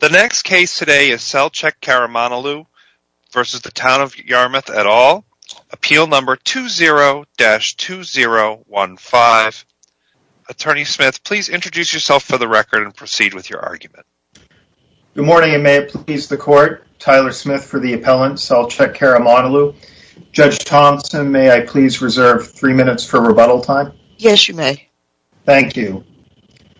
The next case today is Selchuk Karamanoglu versus the Town of Yarmouth et al, appeal number 20-2015. Attorney Smith, please introduce yourself for the record and proceed with your argument. Good morning and may it please the court. Tyler Smith for the appellant, Selchuk Karamanoglu. Judge Thompson, may I please reserve three minutes for rebuttal time? Yes, thank you.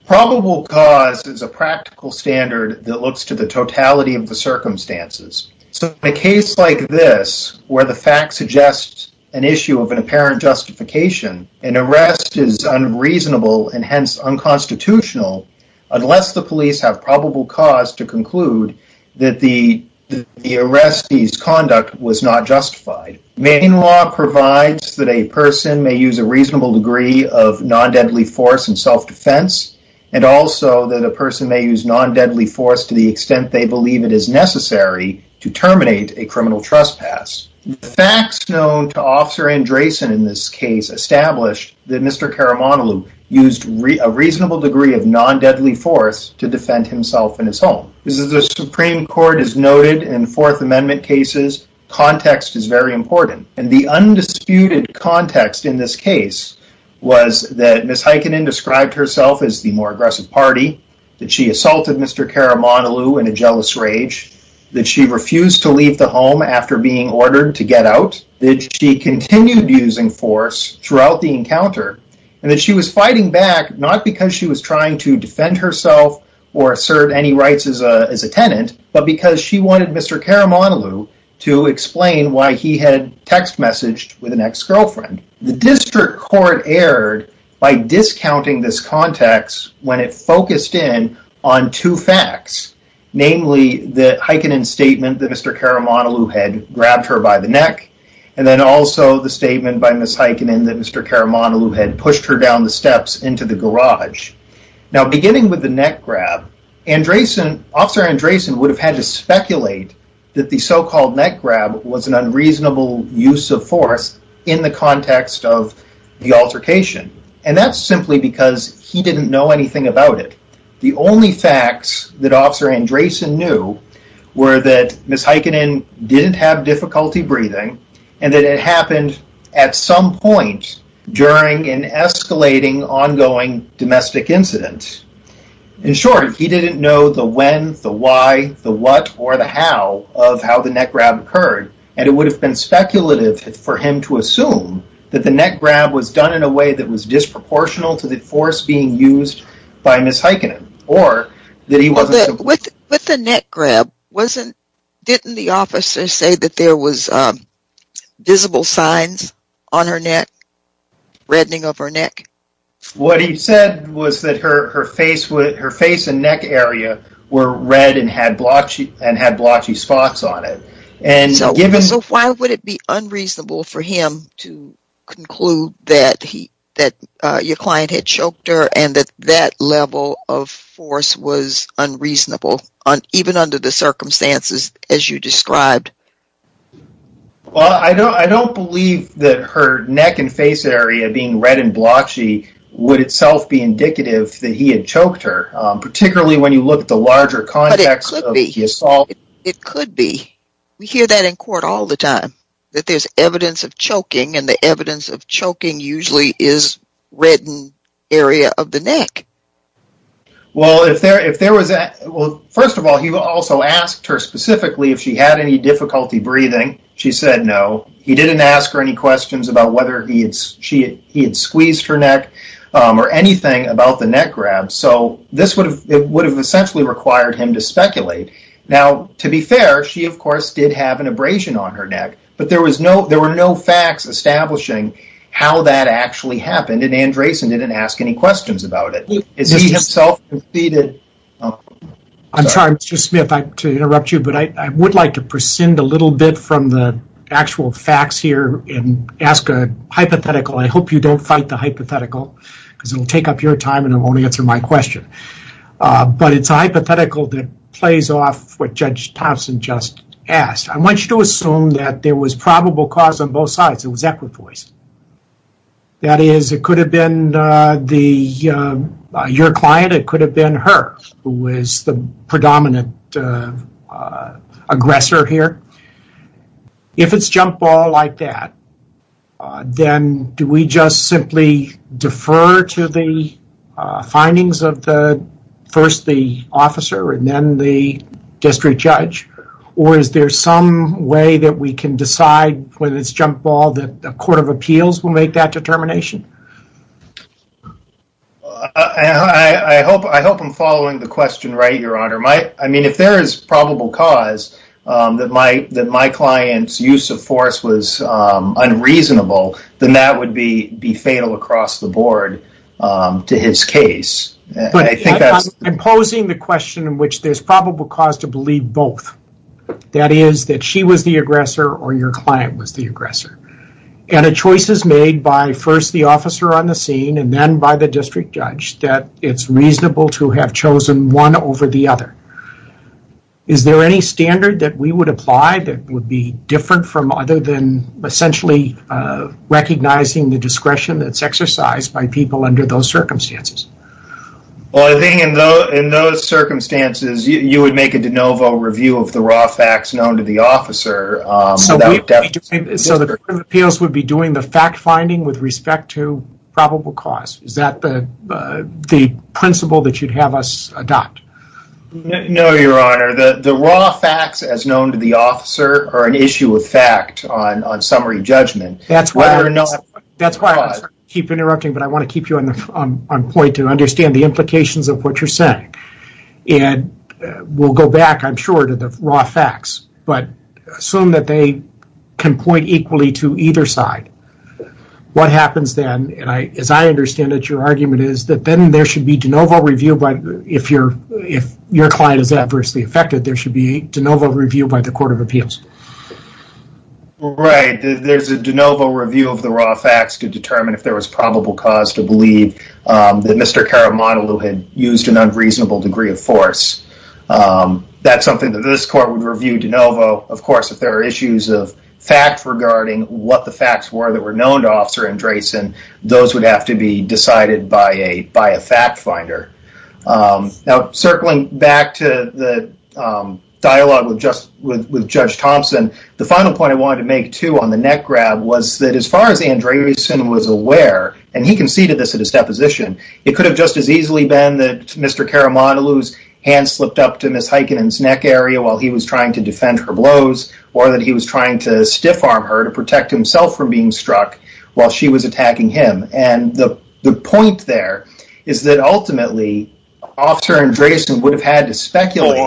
Probable cause is a practical standard that looks to the totality of the circumstances. So in a case like this, where the fact suggests an issue of an apparent justification, an arrest is unreasonable and hence unconstitutional unless the police have probable cause to conclude that the arrestee's conduct was not justified. Main law provides that a person may use a reasonable degree of non-deadly force in self-defense and also that a person may use non-deadly force to the extent they believe it is necessary to terminate a criminal trespass. Facts known to Officer Andresen in this case established that Mr. Karamanoglu used a reasonable degree of non-deadly force to defend himself and his home. As the Supreme Court has found, Ms. Heikkinen described herself as the more aggressive party, that she assaulted Mr. Karamanoglu in a jealous rage, that she refused to leave the home after being ordered to get out, that she continued using force throughout the encounter, and that she was fighting back not because she was trying to defend herself or assert any rights as a tenant, but because she wanted Mr. Karamanoglu to leave. The District Court erred by discounting this context when it focused in on two facts, namely the Heikkinen statement that Mr. Karamanoglu had grabbed her by the neck, and then also the statement by Ms. Heikkinen that Mr. Karamanoglu had pushed her down the steps into the garage. Now beginning with the neck grab, Officer Andresen would have had to speculate that the so-called neck grab was an unreasonable use of force in the context of the altercation, and that's simply because he didn't know anything about it. The only facts that Officer Andresen knew were that Ms. Heikkinen didn't have difficulty breathing, and that it happened at some point during an escalating ongoing domestic incident. In short, he didn't know the when, the why, the what, or the how of how the neck grab occurred, and it would have been speculative for him to assume that the neck grab was done in a way that was disproportional to the force being used by Ms. Heikkinen. With the neck grab, didn't the officer say that there was visible signs on her neck, reddening of her neck? What he said was that her face and neck area were red and had blotchy spots on it. So why would it be unreasonable for him to conclude that your client had choked her and that that level of force was unreasonable, even under the circumstances as you described? Well, I don't believe that her neck and face area being red and blotchy would itself be indicative that he had choked her, particularly when you look at the larger context. But it could be. We hear that in court all the time, that there's evidence of choking, and the evidence of choking usually is reddened area of the neck. Well, first of all, he also asked her specifically if she had any difficulty breathing. She said no. He didn't ask her any questions about whether he had squeezed her neck or anything about the neck grab, so it would have essentially required him to speculate. Now, to be fair, she, of course, did have an abrasion on her neck, but there were no facts establishing how that actually happened, and Andreessen didn't ask any questions about it. I'm sorry, Mr. Smith, to interrupt you, but I would like to prescind a little bit from the actual facts here and ask a hypothetical. I hope you don't fight the hypothetical, because it will take up your time and it won't answer my question. But it's a hypothetical that plays off what Judge Thompson just asked. I want you to assume that there was probable cause on both sides. It was equipoise. That is, it could have been your client, it could have been her, who was the predominant aggressor here. If it's jump ball like that, then do we just simply defer to the findings of first the officer and then the district judge, or is there some way that we can decide whether it's jump ball that the Court of Appeals will make that determination? I hope I'm following the question right, I mean, if there is probable cause that my client's use of force was unreasonable, then that would be fatal across the board to his case. I'm posing the question in which there's probable cause to believe both. That is, that she was the aggressor or your client was the aggressor. And a choice is made by first the officer on the scene and then by the district judge that it's reasonable to have chosen one over the other. Is there any standard that we would apply that would be different from other than essentially recognizing the discretion that's exercised by people under those circumstances? Well, I think in those circumstances, you would make a de novo review of the raw facts known to the officer. So the Court of Appeals would be doing the fact finding with respect to probable cause. Is that the principle that you'd have us adopt? No, Your Honor. The raw facts as known to the officer are an issue of fact on summary judgment. That's why I keep interrupting, but I want to keep you on point to understand the implications of what you're saying. And we'll go back, I'm sure, to the raw facts, but assume that they can point equally to either side. What happens then, and as I understand it, your argument is that then there should be de novo review, but if your client is adversely affected, there should be de novo review by the Court of Appeals. Right, there's a de novo review of the raw facts to determine if there was probable cause to believe that Mr. Caramadolu had used an unreasonable degree of force. That's something that this Court would review de novo. Of course, if there are issues of what the facts were that were known to Officer Andreessen, those would have to be decided by a fact finder. Circling back to the dialogue with Judge Thompson, the final point I wanted to make too on the neck grab was that as far as Andreessen was aware, and he conceded this at his deposition, it could have just as easily been that Mr. Caramadolu's hand slipped up to Ms. Heikkinen's while he was trying to defend her blows, or that he was trying to stiff arm her to protect himself from being struck while she was attacking him. The point there is that ultimately, Officer Andreessen would have had to speculate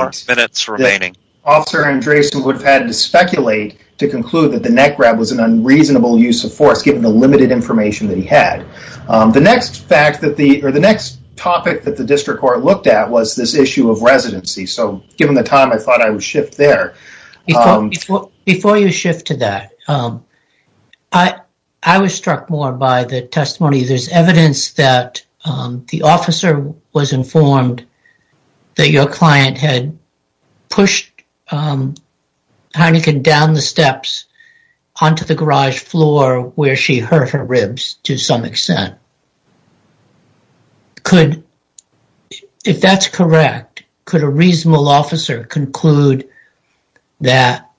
to conclude that the neck grab was an unreasonable use of force given the limited information that he had. The next topic that the District Court looked at was this issue of residency, so given the time, I thought I would shift there. Before you shift to that, I was struck more by the testimony. There's evidence that the officer was informed that your client had pushed Heikkinen down the steps onto the garage floor where she hurt her ribs to some extent. If that's correct, could a reasonable officer conclude that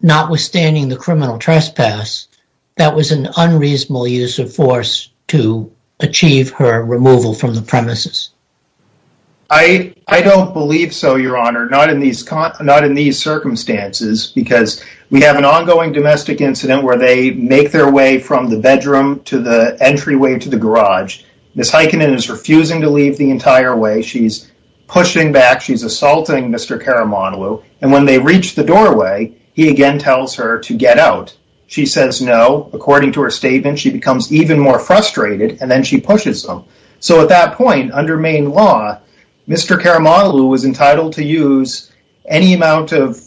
notwithstanding the criminal trespass, that was an unreasonable use of force to achieve her removal from the premises? I don't believe so, Your Honor, not in these circumstances, because we have an ongoing incident where they make their way from the bedroom to the entryway to the garage. Ms. Heikkinen is refusing to leave the entire way. She's pushing back. She's assaulting Mr. Karamandalu, and when they reach the doorway, he again tells her to get out. She says no. According to her statement, she becomes even more frustrated, and then she pushes him. So at that point, under Maine law, Mr. Karamandalu was entitled to use any amount of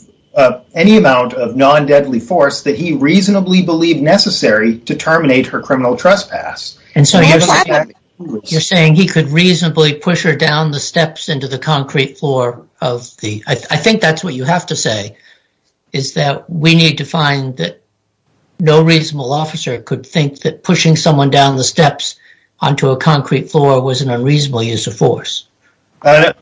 non-deadly force that he reasonably believed necessary to terminate her criminal trespass. You're saying he could reasonably push her down the steps into the concrete floor of the... I think that's what you have to say, is that we need to find that no reasonable officer could think that pushing someone down the steps onto a concrete floor was an unreasonable use of force. I know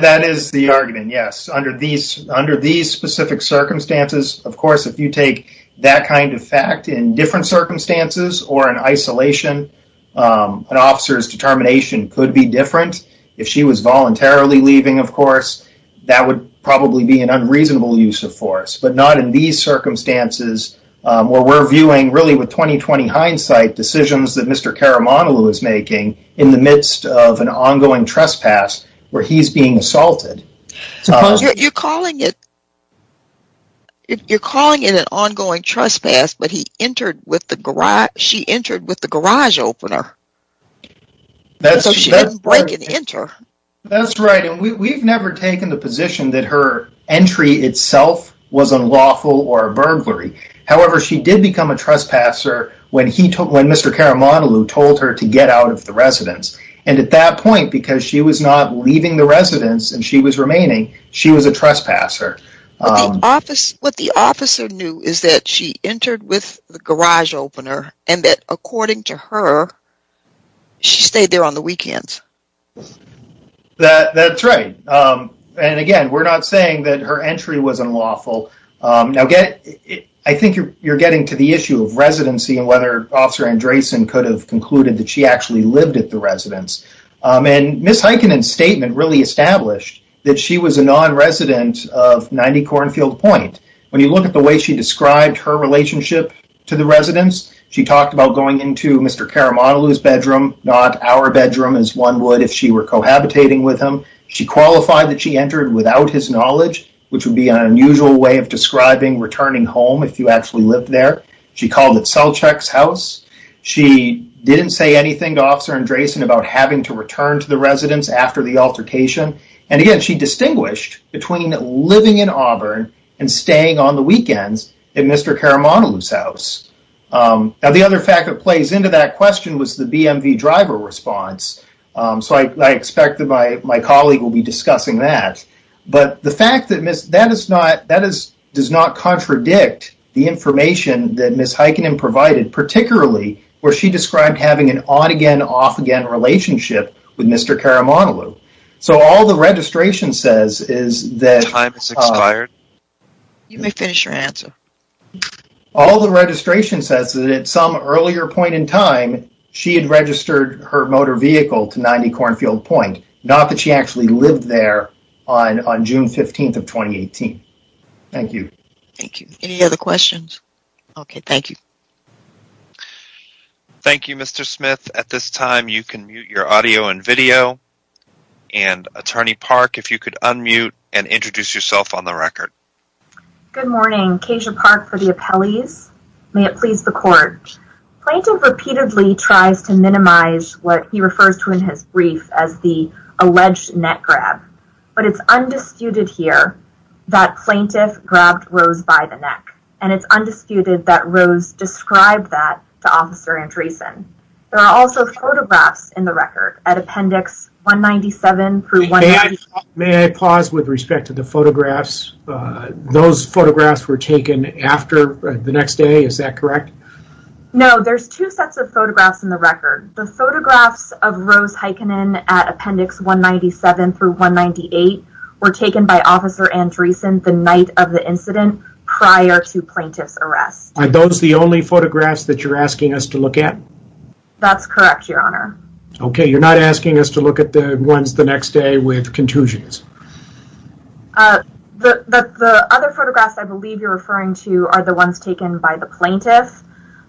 that is the argument, yes. Under these specific circumstances, of course, if you take that kind of fact in different circumstances or in isolation, an officer's determination could be different. If she was voluntarily leaving, of course, that would probably be an unreasonable use of force, but not in these circumstances, where we're viewing really with 20-20 hindsight decisions that Mr. Karamandalu is making in the midst of an ongoing trespass, where he's being assaulted. You're calling it an ongoing trespass, but she entered with the garage opener, so she didn't break and enter. That's right, and we've never taken the position that her entry itself was unlawful or a burglary. However, she did become a trespasser when Mr. Karamandalu told her to get out of the residence, and at that point, because she was not leaving the residence and she was remaining, she was a trespasser. What the officer knew is that she entered with the garage opener, and that according to her, she stayed there on the weekends. That's right, and again, we're not saying that her entry was unlawful. I think you're getting to the issue of residency and whether Officer Andresen could have concluded that she actually lived at the residence, and Ms. Heikkinen's statement really established that she was a non-resident of 90 Cornfield Point. When you look at the way she described her relationship to the residence, she talked about going into Mr. Karamandalu's bedroom, not our bedroom as one would if she were cohabitating with him. She qualified that she entered without his knowledge, which would be an unusual way of describing returning home if you actually lived there. She called it Selchuk's house. She didn't say anything to Officer Andresen about having to return to the residence after the altercation, and again, she distinguished between living in Auburn and staying on the weekends at Mr. Karamandalu's house. Now, the other fact that plays into that question was the BMV driver response, so I expect that my colleague will be discussing that, but the fact that does not contradict the information that Ms. Heikkinen provided, particularly where she described having an on-again, off-again relationship with Mr. Karamandalu. So all the registration says is that at some earlier point in time, she had registered her motor vehicle to 90 Cornfield Point, not that she actually lived there on June 15th of 2018. Thank you. Thank you. Any other questions? Okay, thank you. Thank you, Mr. Smith. At this time, you can mute your audio and video, and Attorney Park, if you could unmute and introduce yourself on the record. Good morning. Kasia Park for the appellees. May it please the court. Plaintiff repeatedly tries to minimize what he refers to in his brief as the alleged neck grab, but it's undisputed here that plaintiff grabbed Rose by the neck, and it's undisputed that Rose described that to Officer Andresen. There are also photographs in the record at Appendix 197-198. May I pause with respect to the photographs? Those photographs were taken after the next day, is that correct? No, there's two sets of photographs in the record. The photographs of Rose Heikkinen at Appendix 197-198 were taken by Officer Andresen the night of the incident prior to plaintiff's arrest. Are those the only photographs that you're asking us to look at? That's correct, Your Honor. Okay, you're not asking us to look at the ones the next day with contusions. The other photographs I believe you're referring to are the ones taken by the plaintiff.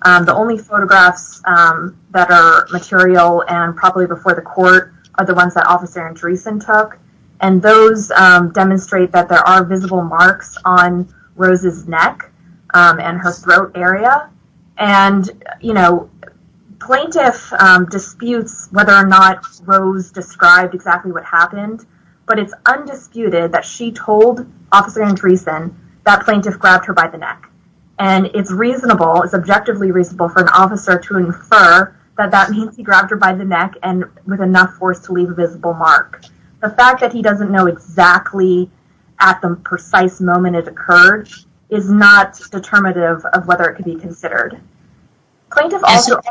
The only photographs that are material and probably before the court are the ones that Officer Andresen took, and those demonstrate that there are visible marks on Rose's neck and her throat area. And, you know, plaintiff disputes whether or not Rose described exactly what happened, but it's undisputed that she told Officer Andresen that plaintiff grabbed her by the neck. And it's reasonable, it's objectively reasonable for an officer to infer that that means he grabbed her by the neck and with enough force to leave a visible mark. The fact that he doesn't know exactly at the precise moment it occurred is not determinative of whether it could be considered.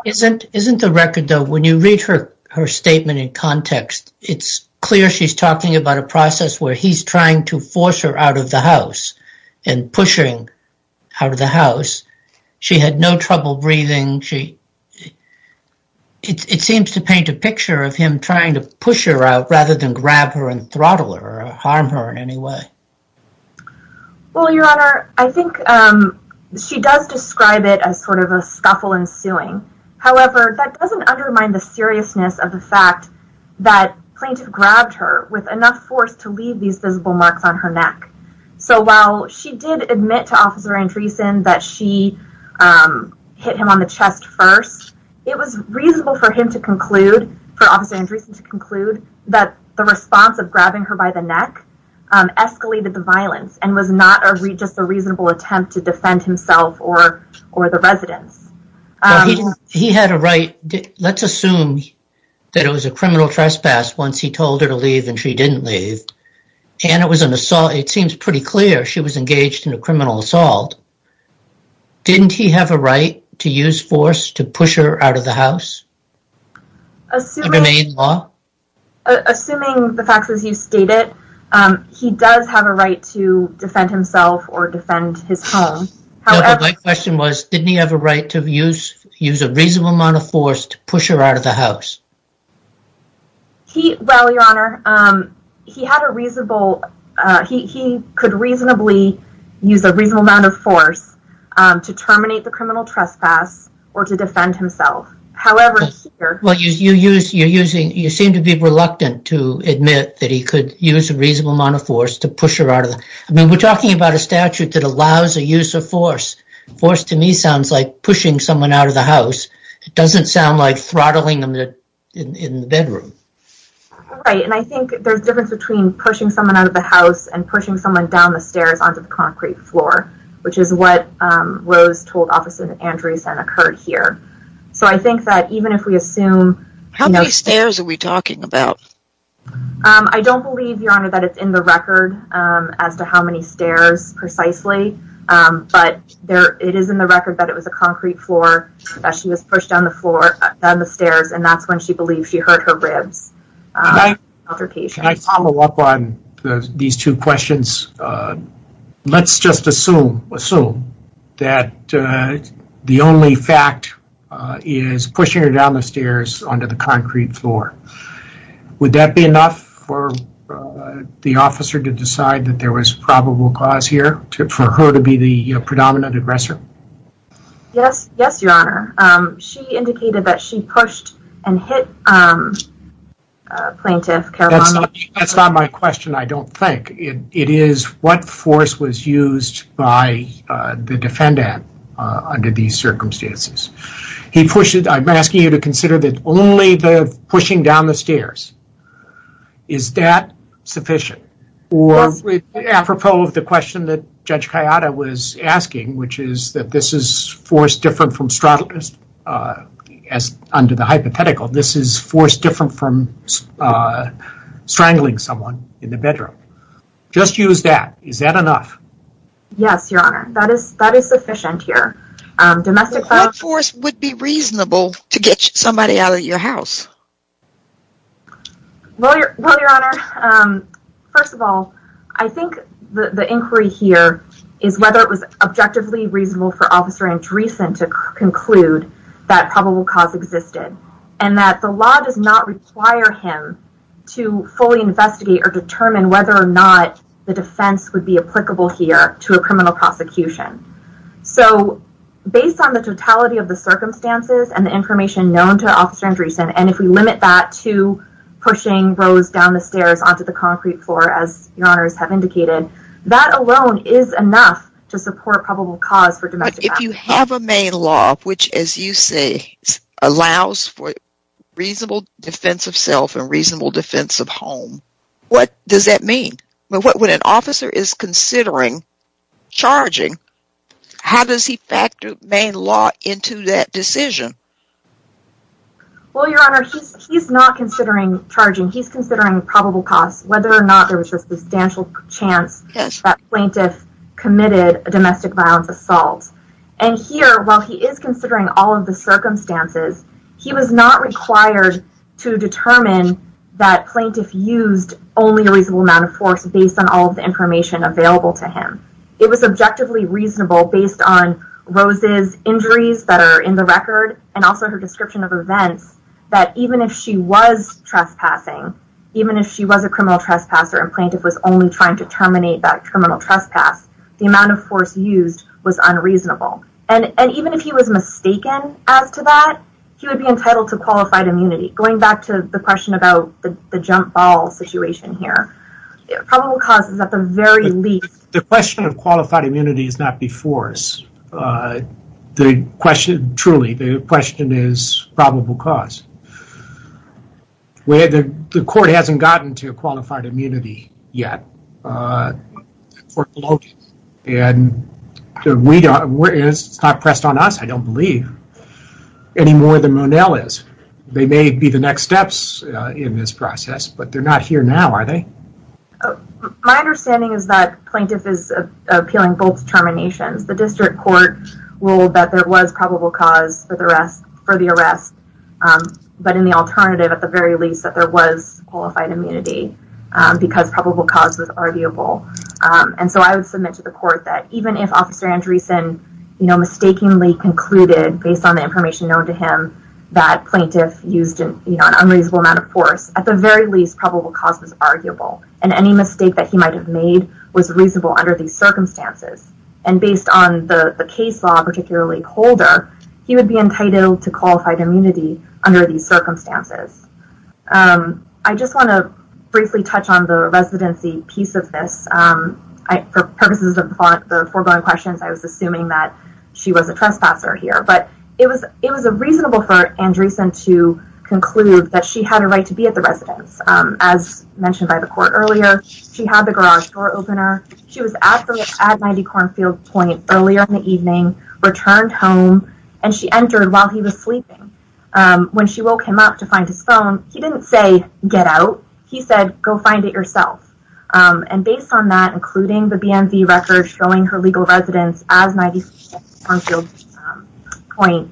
Isn't the record, though, when you read her statement in context, it's clear she's talking about a process where he's trying to force her out of the house and pushing out of the house. She had no trouble breathing. It seems to paint a picture of him trying to push her out rather than grab her and throttle her or harm her in any way. Well, Your Honor, I think she does describe it as sort of a scuffle ensuing. However, that doesn't undermine the seriousness of the fact that plaintiff grabbed her with enough force to leave these visible marks on her neck. So while she did admit to Officer Andresen that she hit him on the chest first, it was reasonable for him to conclude, for Officer Andresen to conclude, that the response of grabbing her by the neck escalated the violence and was not just a reasonable attempt to defend himself or the residents. Let's assume that it was a criminal trespass once he told her to leave and she didn't leave. It seems pretty clear she was engaged in a criminal assault. Didn't he have a right to use force to push her out of the house under Maine law? Assuming the facts as you stated, he does have a right to defend himself or defend his home. My question was, didn't he have a right to use a reasonable amount of force to push her out of the house? Well, Your Honor, he could reasonably use a reasonable amount of force to terminate the to admit that he could use a reasonable amount of force to push her out of the house. I mean, we're talking about a statute that allows the use of force. Force to me sounds like pushing someone out of the house. It doesn't sound like throttling them in the bedroom. Right. And I think there's a difference between pushing someone out of the house and pushing someone down the stairs onto the concrete floor, which is what Rose told Officer Andresen occurred here. So I think that even if we assume... How many stairs are we talking about? I don't believe, Your Honor, that it's in the record as to how many stairs precisely, but it is in the record that it was a concrete floor that she was pushed down the stairs and that's when she believed she hurt her ribs. Can I follow up on these two questions? Let's just assume that the only fact is pushing her down the stairs onto the concrete floor. Would that be enough for the officer to decide that there was probable cause here for her to be the predominant aggressor? Yes. Yes, Your Honor. She indicated that she pushed and hit a plaintiff. That's not my question, I don't think. It is what force was used by the defendant under these circumstances. I'm asking you to consider that only the pushing down the stairs, is that sufficient? Or apropos of the question that Judge Kayada was forced different from strangling someone in the bedroom. Just use that. Is that enough? Yes, Your Honor. That is sufficient here. What force would be reasonable to get somebody out of your house? Well, Your Honor, first of all, I think the inquiry here is whether it was objectively reasonable for Officer Andresen to conclude that probable cause existed, and that the law does not require him to fully investigate or determine whether or not the defense would be applicable here to a criminal prosecution. So, based on the totality of the circumstances and the information known to Officer Andresen, and if we limit that to pushing Rose down the stairs onto the concrete floor, as Your Honors have indicated, that alone is enough to support probable cause for domestic violence. But if you have a main law, which, as you say, allows for reasonable defense of self and reasonable defense of home, what does that mean? When an officer is considering charging, how does he factor main law into that decision? Well, Your Honor, he's not considering charging. He's considering probable cause, whether or not there was a substantial chance that plaintiff committed a domestic violence assault. And here, while he is considering all of the circumstances, he was not required to determine that plaintiff used only a reasonable amount of force based on all of the information available to him. It was objectively reasonable, based on Rose's injuries that are in the record and also her description of events, that even if she was trespassing, even if she was a criminal trespasser and plaintiff was only trying to terminate that criminal trespass, the amount of force used was unreasonable. And even if he was mistaken as to that, he would be entitled to qualified immunity. Going back to the question about the jump ball situation here, probable cause is at the very least... The question of qualified immunity is not before us. The question, truly, the question is probable cause. The court hasn't gotten to qualified immunity. It's not pressed on us, I don't believe, any more than Monell is. They may be the next steps in this process, but they're not here now, are they? My understanding is that plaintiff is appealing both determinations. The district court ruled that there was probable cause for the arrest, but in the alternative, at the very least, that there was qualified immunity because probable cause was arguable. And so I would submit to the court that even if Officer Andreessen mistakenly concluded, based on the information known to him, that plaintiff used an unreasonable amount of force, at the very least, probable cause was arguable. And any mistake that he might have made was reasonable under these circumstances. And based on the case law, particularly Holder, he would be entitled to qualified immunity under these circumstances. I just want to briefly touch on the residency piece of this for purposes of the foregoing questions. I was assuming that she was a trespasser here, but it was a reasonable for Andreessen to conclude that she had a right to be at the residence. As mentioned by the court earlier, she had the garage door opener. She was at 90 Cornfield Point earlier in the evening, returned home, and she entered while he was sleeping. When she woke him up to find his phone, he didn't say, get out. He said, go find it yourself. And based on that, including the BMV record showing her legal residence as 90 Cornfield Point,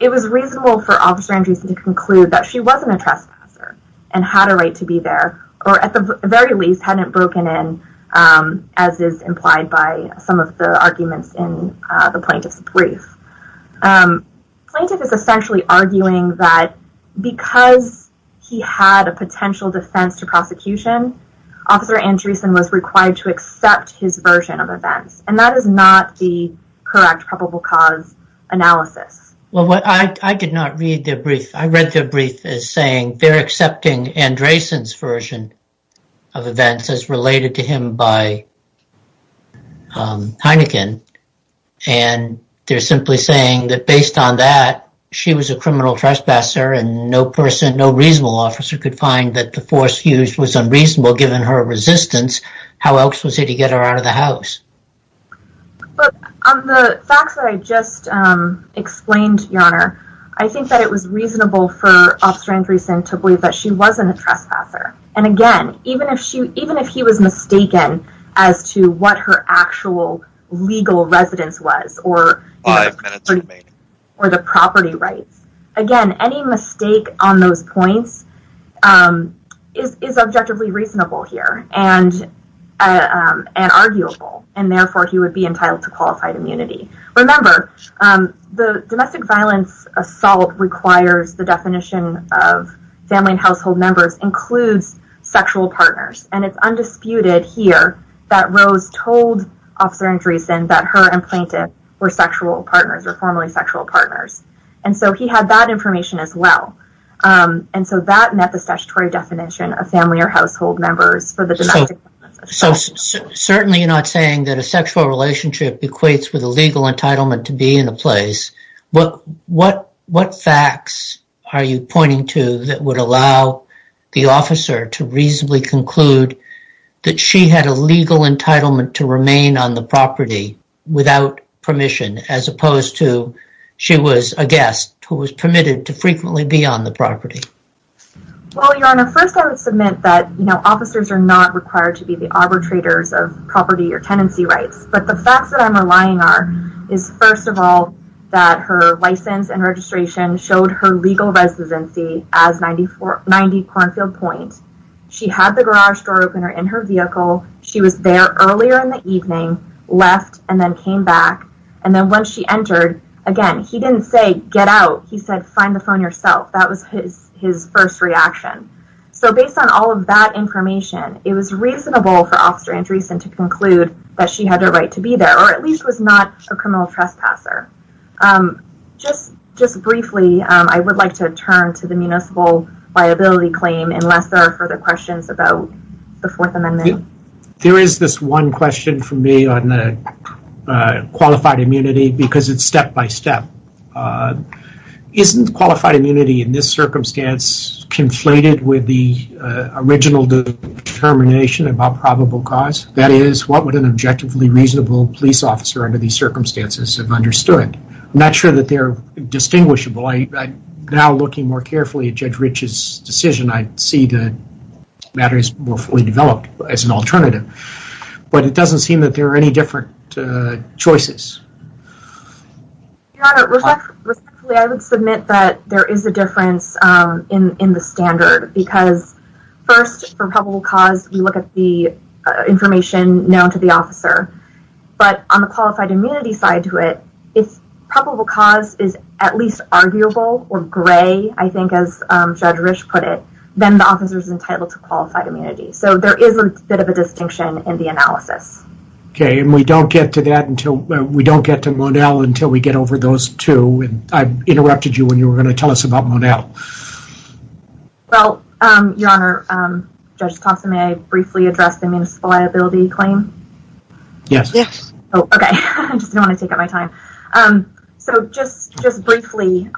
it was reasonable for Officer Andreessen to conclude that she wasn't a trespasser and had a right to be there, or at the very least, hadn't broken in, as is implied by some of the arguments in the plaintiff's brief. Plaintiff is essentially arguing that because he had a potential defense to prosecution, Officer Andreessen was required to accept his version of events, and that is not the correct probable cause analysis. Well, I did not read their brief. I read their brief as saying they're accepting Andreessen's version of events as related to him by Heineken, and they're simply saying that based on that, she was a criminal trespasser and no person, could find that the force used was unreasonable given her resistance. How else was he to get her out of the house? But on the facts that I just explained, Your Honor, I think that it was reasonable for Officer Andreessen to believe that she wasn't a trespasser. And again, even if he was mistaken as to what her actual legal residence was, or the property rights, again, any mistake on those points is objectively reasonable here and arguable, and therefore, he would be entitled to qualified immunity. Remember, the domestic violence assault requires the definition of family and household members includes sexual partners, and it's undisputed here that Rose told Officer Andreessen that her and plaintiff were sexual partners or formerly sexual partners. And so he had that information as well. And so that met the statutory definition of family or household members for the domestic violence assault. So certainly you're not saying that a sexual relationship equates with a legal entitlement to be in a place. What facts are you pointing to that would allow the officer to reasonably conclude that she had a legal entitlement to remain on the property without permission, as opposed to she was a guest who was permitted to frequently be on the property? Well, Your Honor, first, I would submit that, you know, officers are not required to be the arbitrators of property or tenancy rights. But the facts that I'm relying on is, first of all, that her license and registration showed her legal residency as 90 Cornfield Point. She had the garage door opener in her vehicle. She was there earlier in the evening, left, and then came back. And then once she entered, again, he didn't say, get out. He said, find the phone yourself. That was his first reaction. So based on all of that information, it was reasonable for Officer Andreessen to conclude that she had a right to be there, or at least was not a criminal trespasser. Just briefly, I would like to turn to the municipal liability claim unless there are further questions about the Fourth Amendment. There is this one question for me on the qualified immunity because it's step by step. Isn't qualified immunity in this circumstance conflated with the original determination about probable cause? That is, what would an objectively reasonable police officer under these circumstances have understood? I'm not sure that they're distinguishable. Now looking more carefully at Judge Rich's decision, I see the matter is more fully developed as an alternative, but it doesn't seem that there are any different choices. Your Honor, respectfully, I would submit that there is a difference in the standard because first, for probable cause, we look at the information known to the officer. But on the Judge Rich put it, then the officer is entitled to qualified immunity. So there is a bit of a distinction in the analysis. Okay, and we don't get to that until we don't get to Monell until we get over those two. I interrupted you when you were going to tell us about Monell. Well, Your Honor, Judge Thompson, may I briefly address the municipal liability claim? Yes. Okay, I just don't want to take up my time. So just briefly,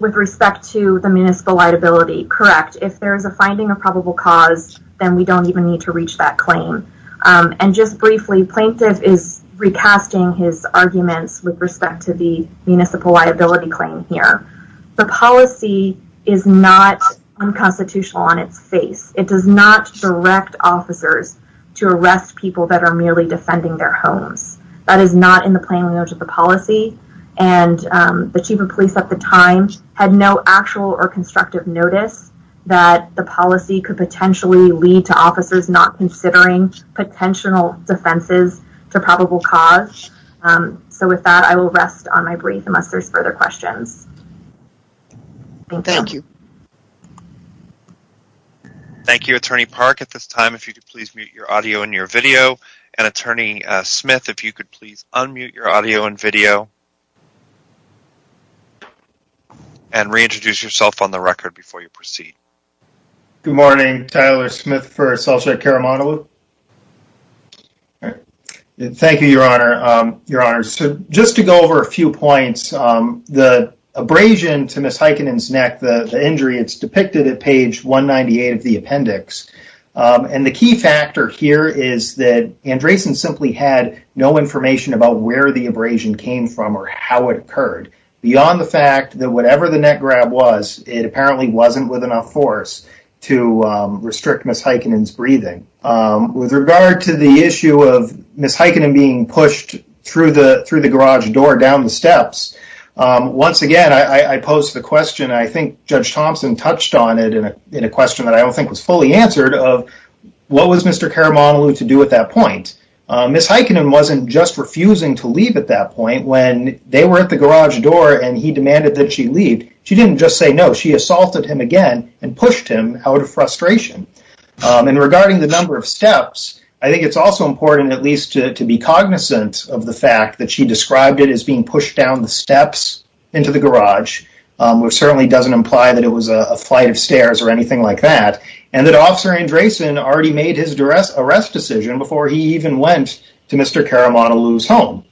with respect to the municipal liability, correct, if there is a finding of probable cause, then we don't even need to reach that claim. And just briefly, Plaintiff is recasting his arguments with respect to the municipal liability claim here. The policy is not unconstitutional on its face. It does not direct officers to arrest people that are merely defending their homes. That is not in the notice that the policy could potentially lead to officers not considering potential defenses to probable cause. So with that, I will rest on my brief unless there's further questions. Thank you. Thank you, Attorney Park. At this time, if you could please mute your audio and your video. And Attorney Smith, if you could please unmute your audio and video and reintroduce yourself on the record before you proceed. Good morning, Tyler Smith for Celsiac Caramontaloo. Thank you, Your Honor. Your Honor, so just to go over a few points, the abrasion to Ms. Heikkinen's neck, the injury, it's depicted at page 198 of the appendix. And the key factor here is that came from or how it occurred, beyond the fact that whatever the neck grab was, it apparently wasn't with enough force to restrict Ms. Heikkinen's breathing. With regard to the issue of Ms. Heikkinen being pushed through the garage door down the steps, once again, I pose the question, I think Judge Thompson touched on it in a question that I don't think was fully answered, of what was Mr. Caramontaloo to do at that point? Ms. Heikkinen wasn't just refusing to leave at that point when they were at the garage door and he demanded that she leave. She didn't just say no, she assaulted him again and pushed him out of frustration. And regarding the number of steps, I think it's also important at least to be cognizant of the fact that she described it as being pushed down the steps into the garage, which certainly doesn't imply that it was a flight of stairs or anything like that. And that Officer Andreessen already made his arrest decision before he even went to Mr. Caramontaloo's home.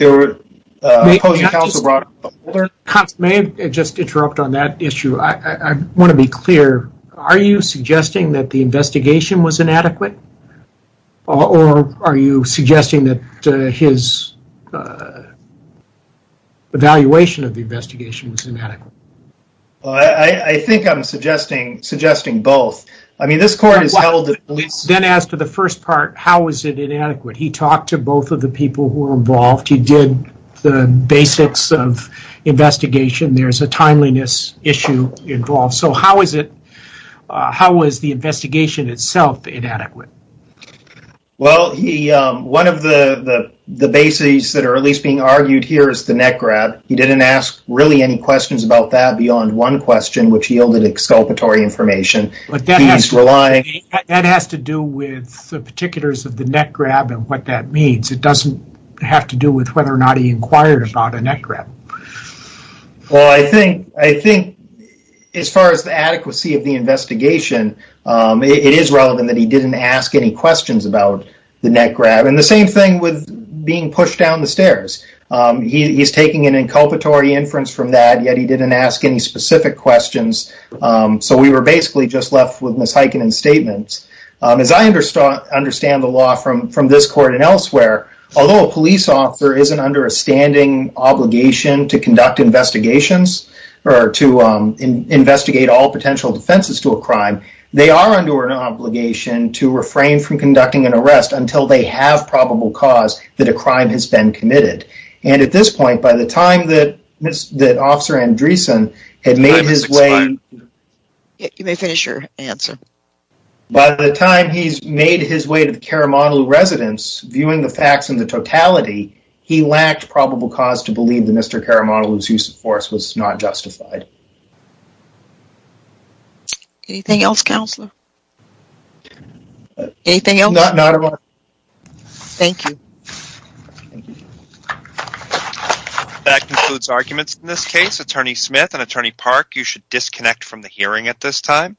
Judge Thompson, may I just interrupt on that issue? I want to be clear. Are you suggesting that the investigation was inadequate? Or are you suggesting that his evaluation of the investigation was inadequate? I think I'm suggesting both. I mean, this court then asked for the first part, how is it inadequate? He talked to both of the people who were involved. He did the basics of investigation. There's a timeliness issue involved. So how was the investigation itself inadequate? Well, one of the bases that are at least being argued here is the neck grab. He didn't ask really any questions about that beyond one question, which yielded exculpatory information. But that has to do with the particulars of the neck grab and what that means. It doesn't have to do with whether or not he inquired about a neck grab. Well, I think as far as the adequacy of the investigation, it is relevant that he didn't ask any questions about the neck grab. And the same thing with being pushed down the stairs. He's taking an inculpatory inference from that, yet he didn't ask any specific questions. So we were basically just left with misheikening statements. As I understand the law from this court and elsewhere, although a police officer isn't under a standing obligation to conduct investigations or to investigate all potential defenses to a crime, they are under an obligation to refrain from conducting an arrest until they have probable cause that a crime has been committed. And at this point, by the time that Officer Andreesen had made his way... You may finish your answer. By the time he's made his way to the Caramondaloo residence, viewing the facts in the totality, he lacked probable cause to believe that Mr. Andreesen was not justified. Anything else, Counselor? Anything else? No, not at all. Thank you. That concludes arguments in this case. Attorney Smith and Attorney Park, you should disconnect from the hearing at this time.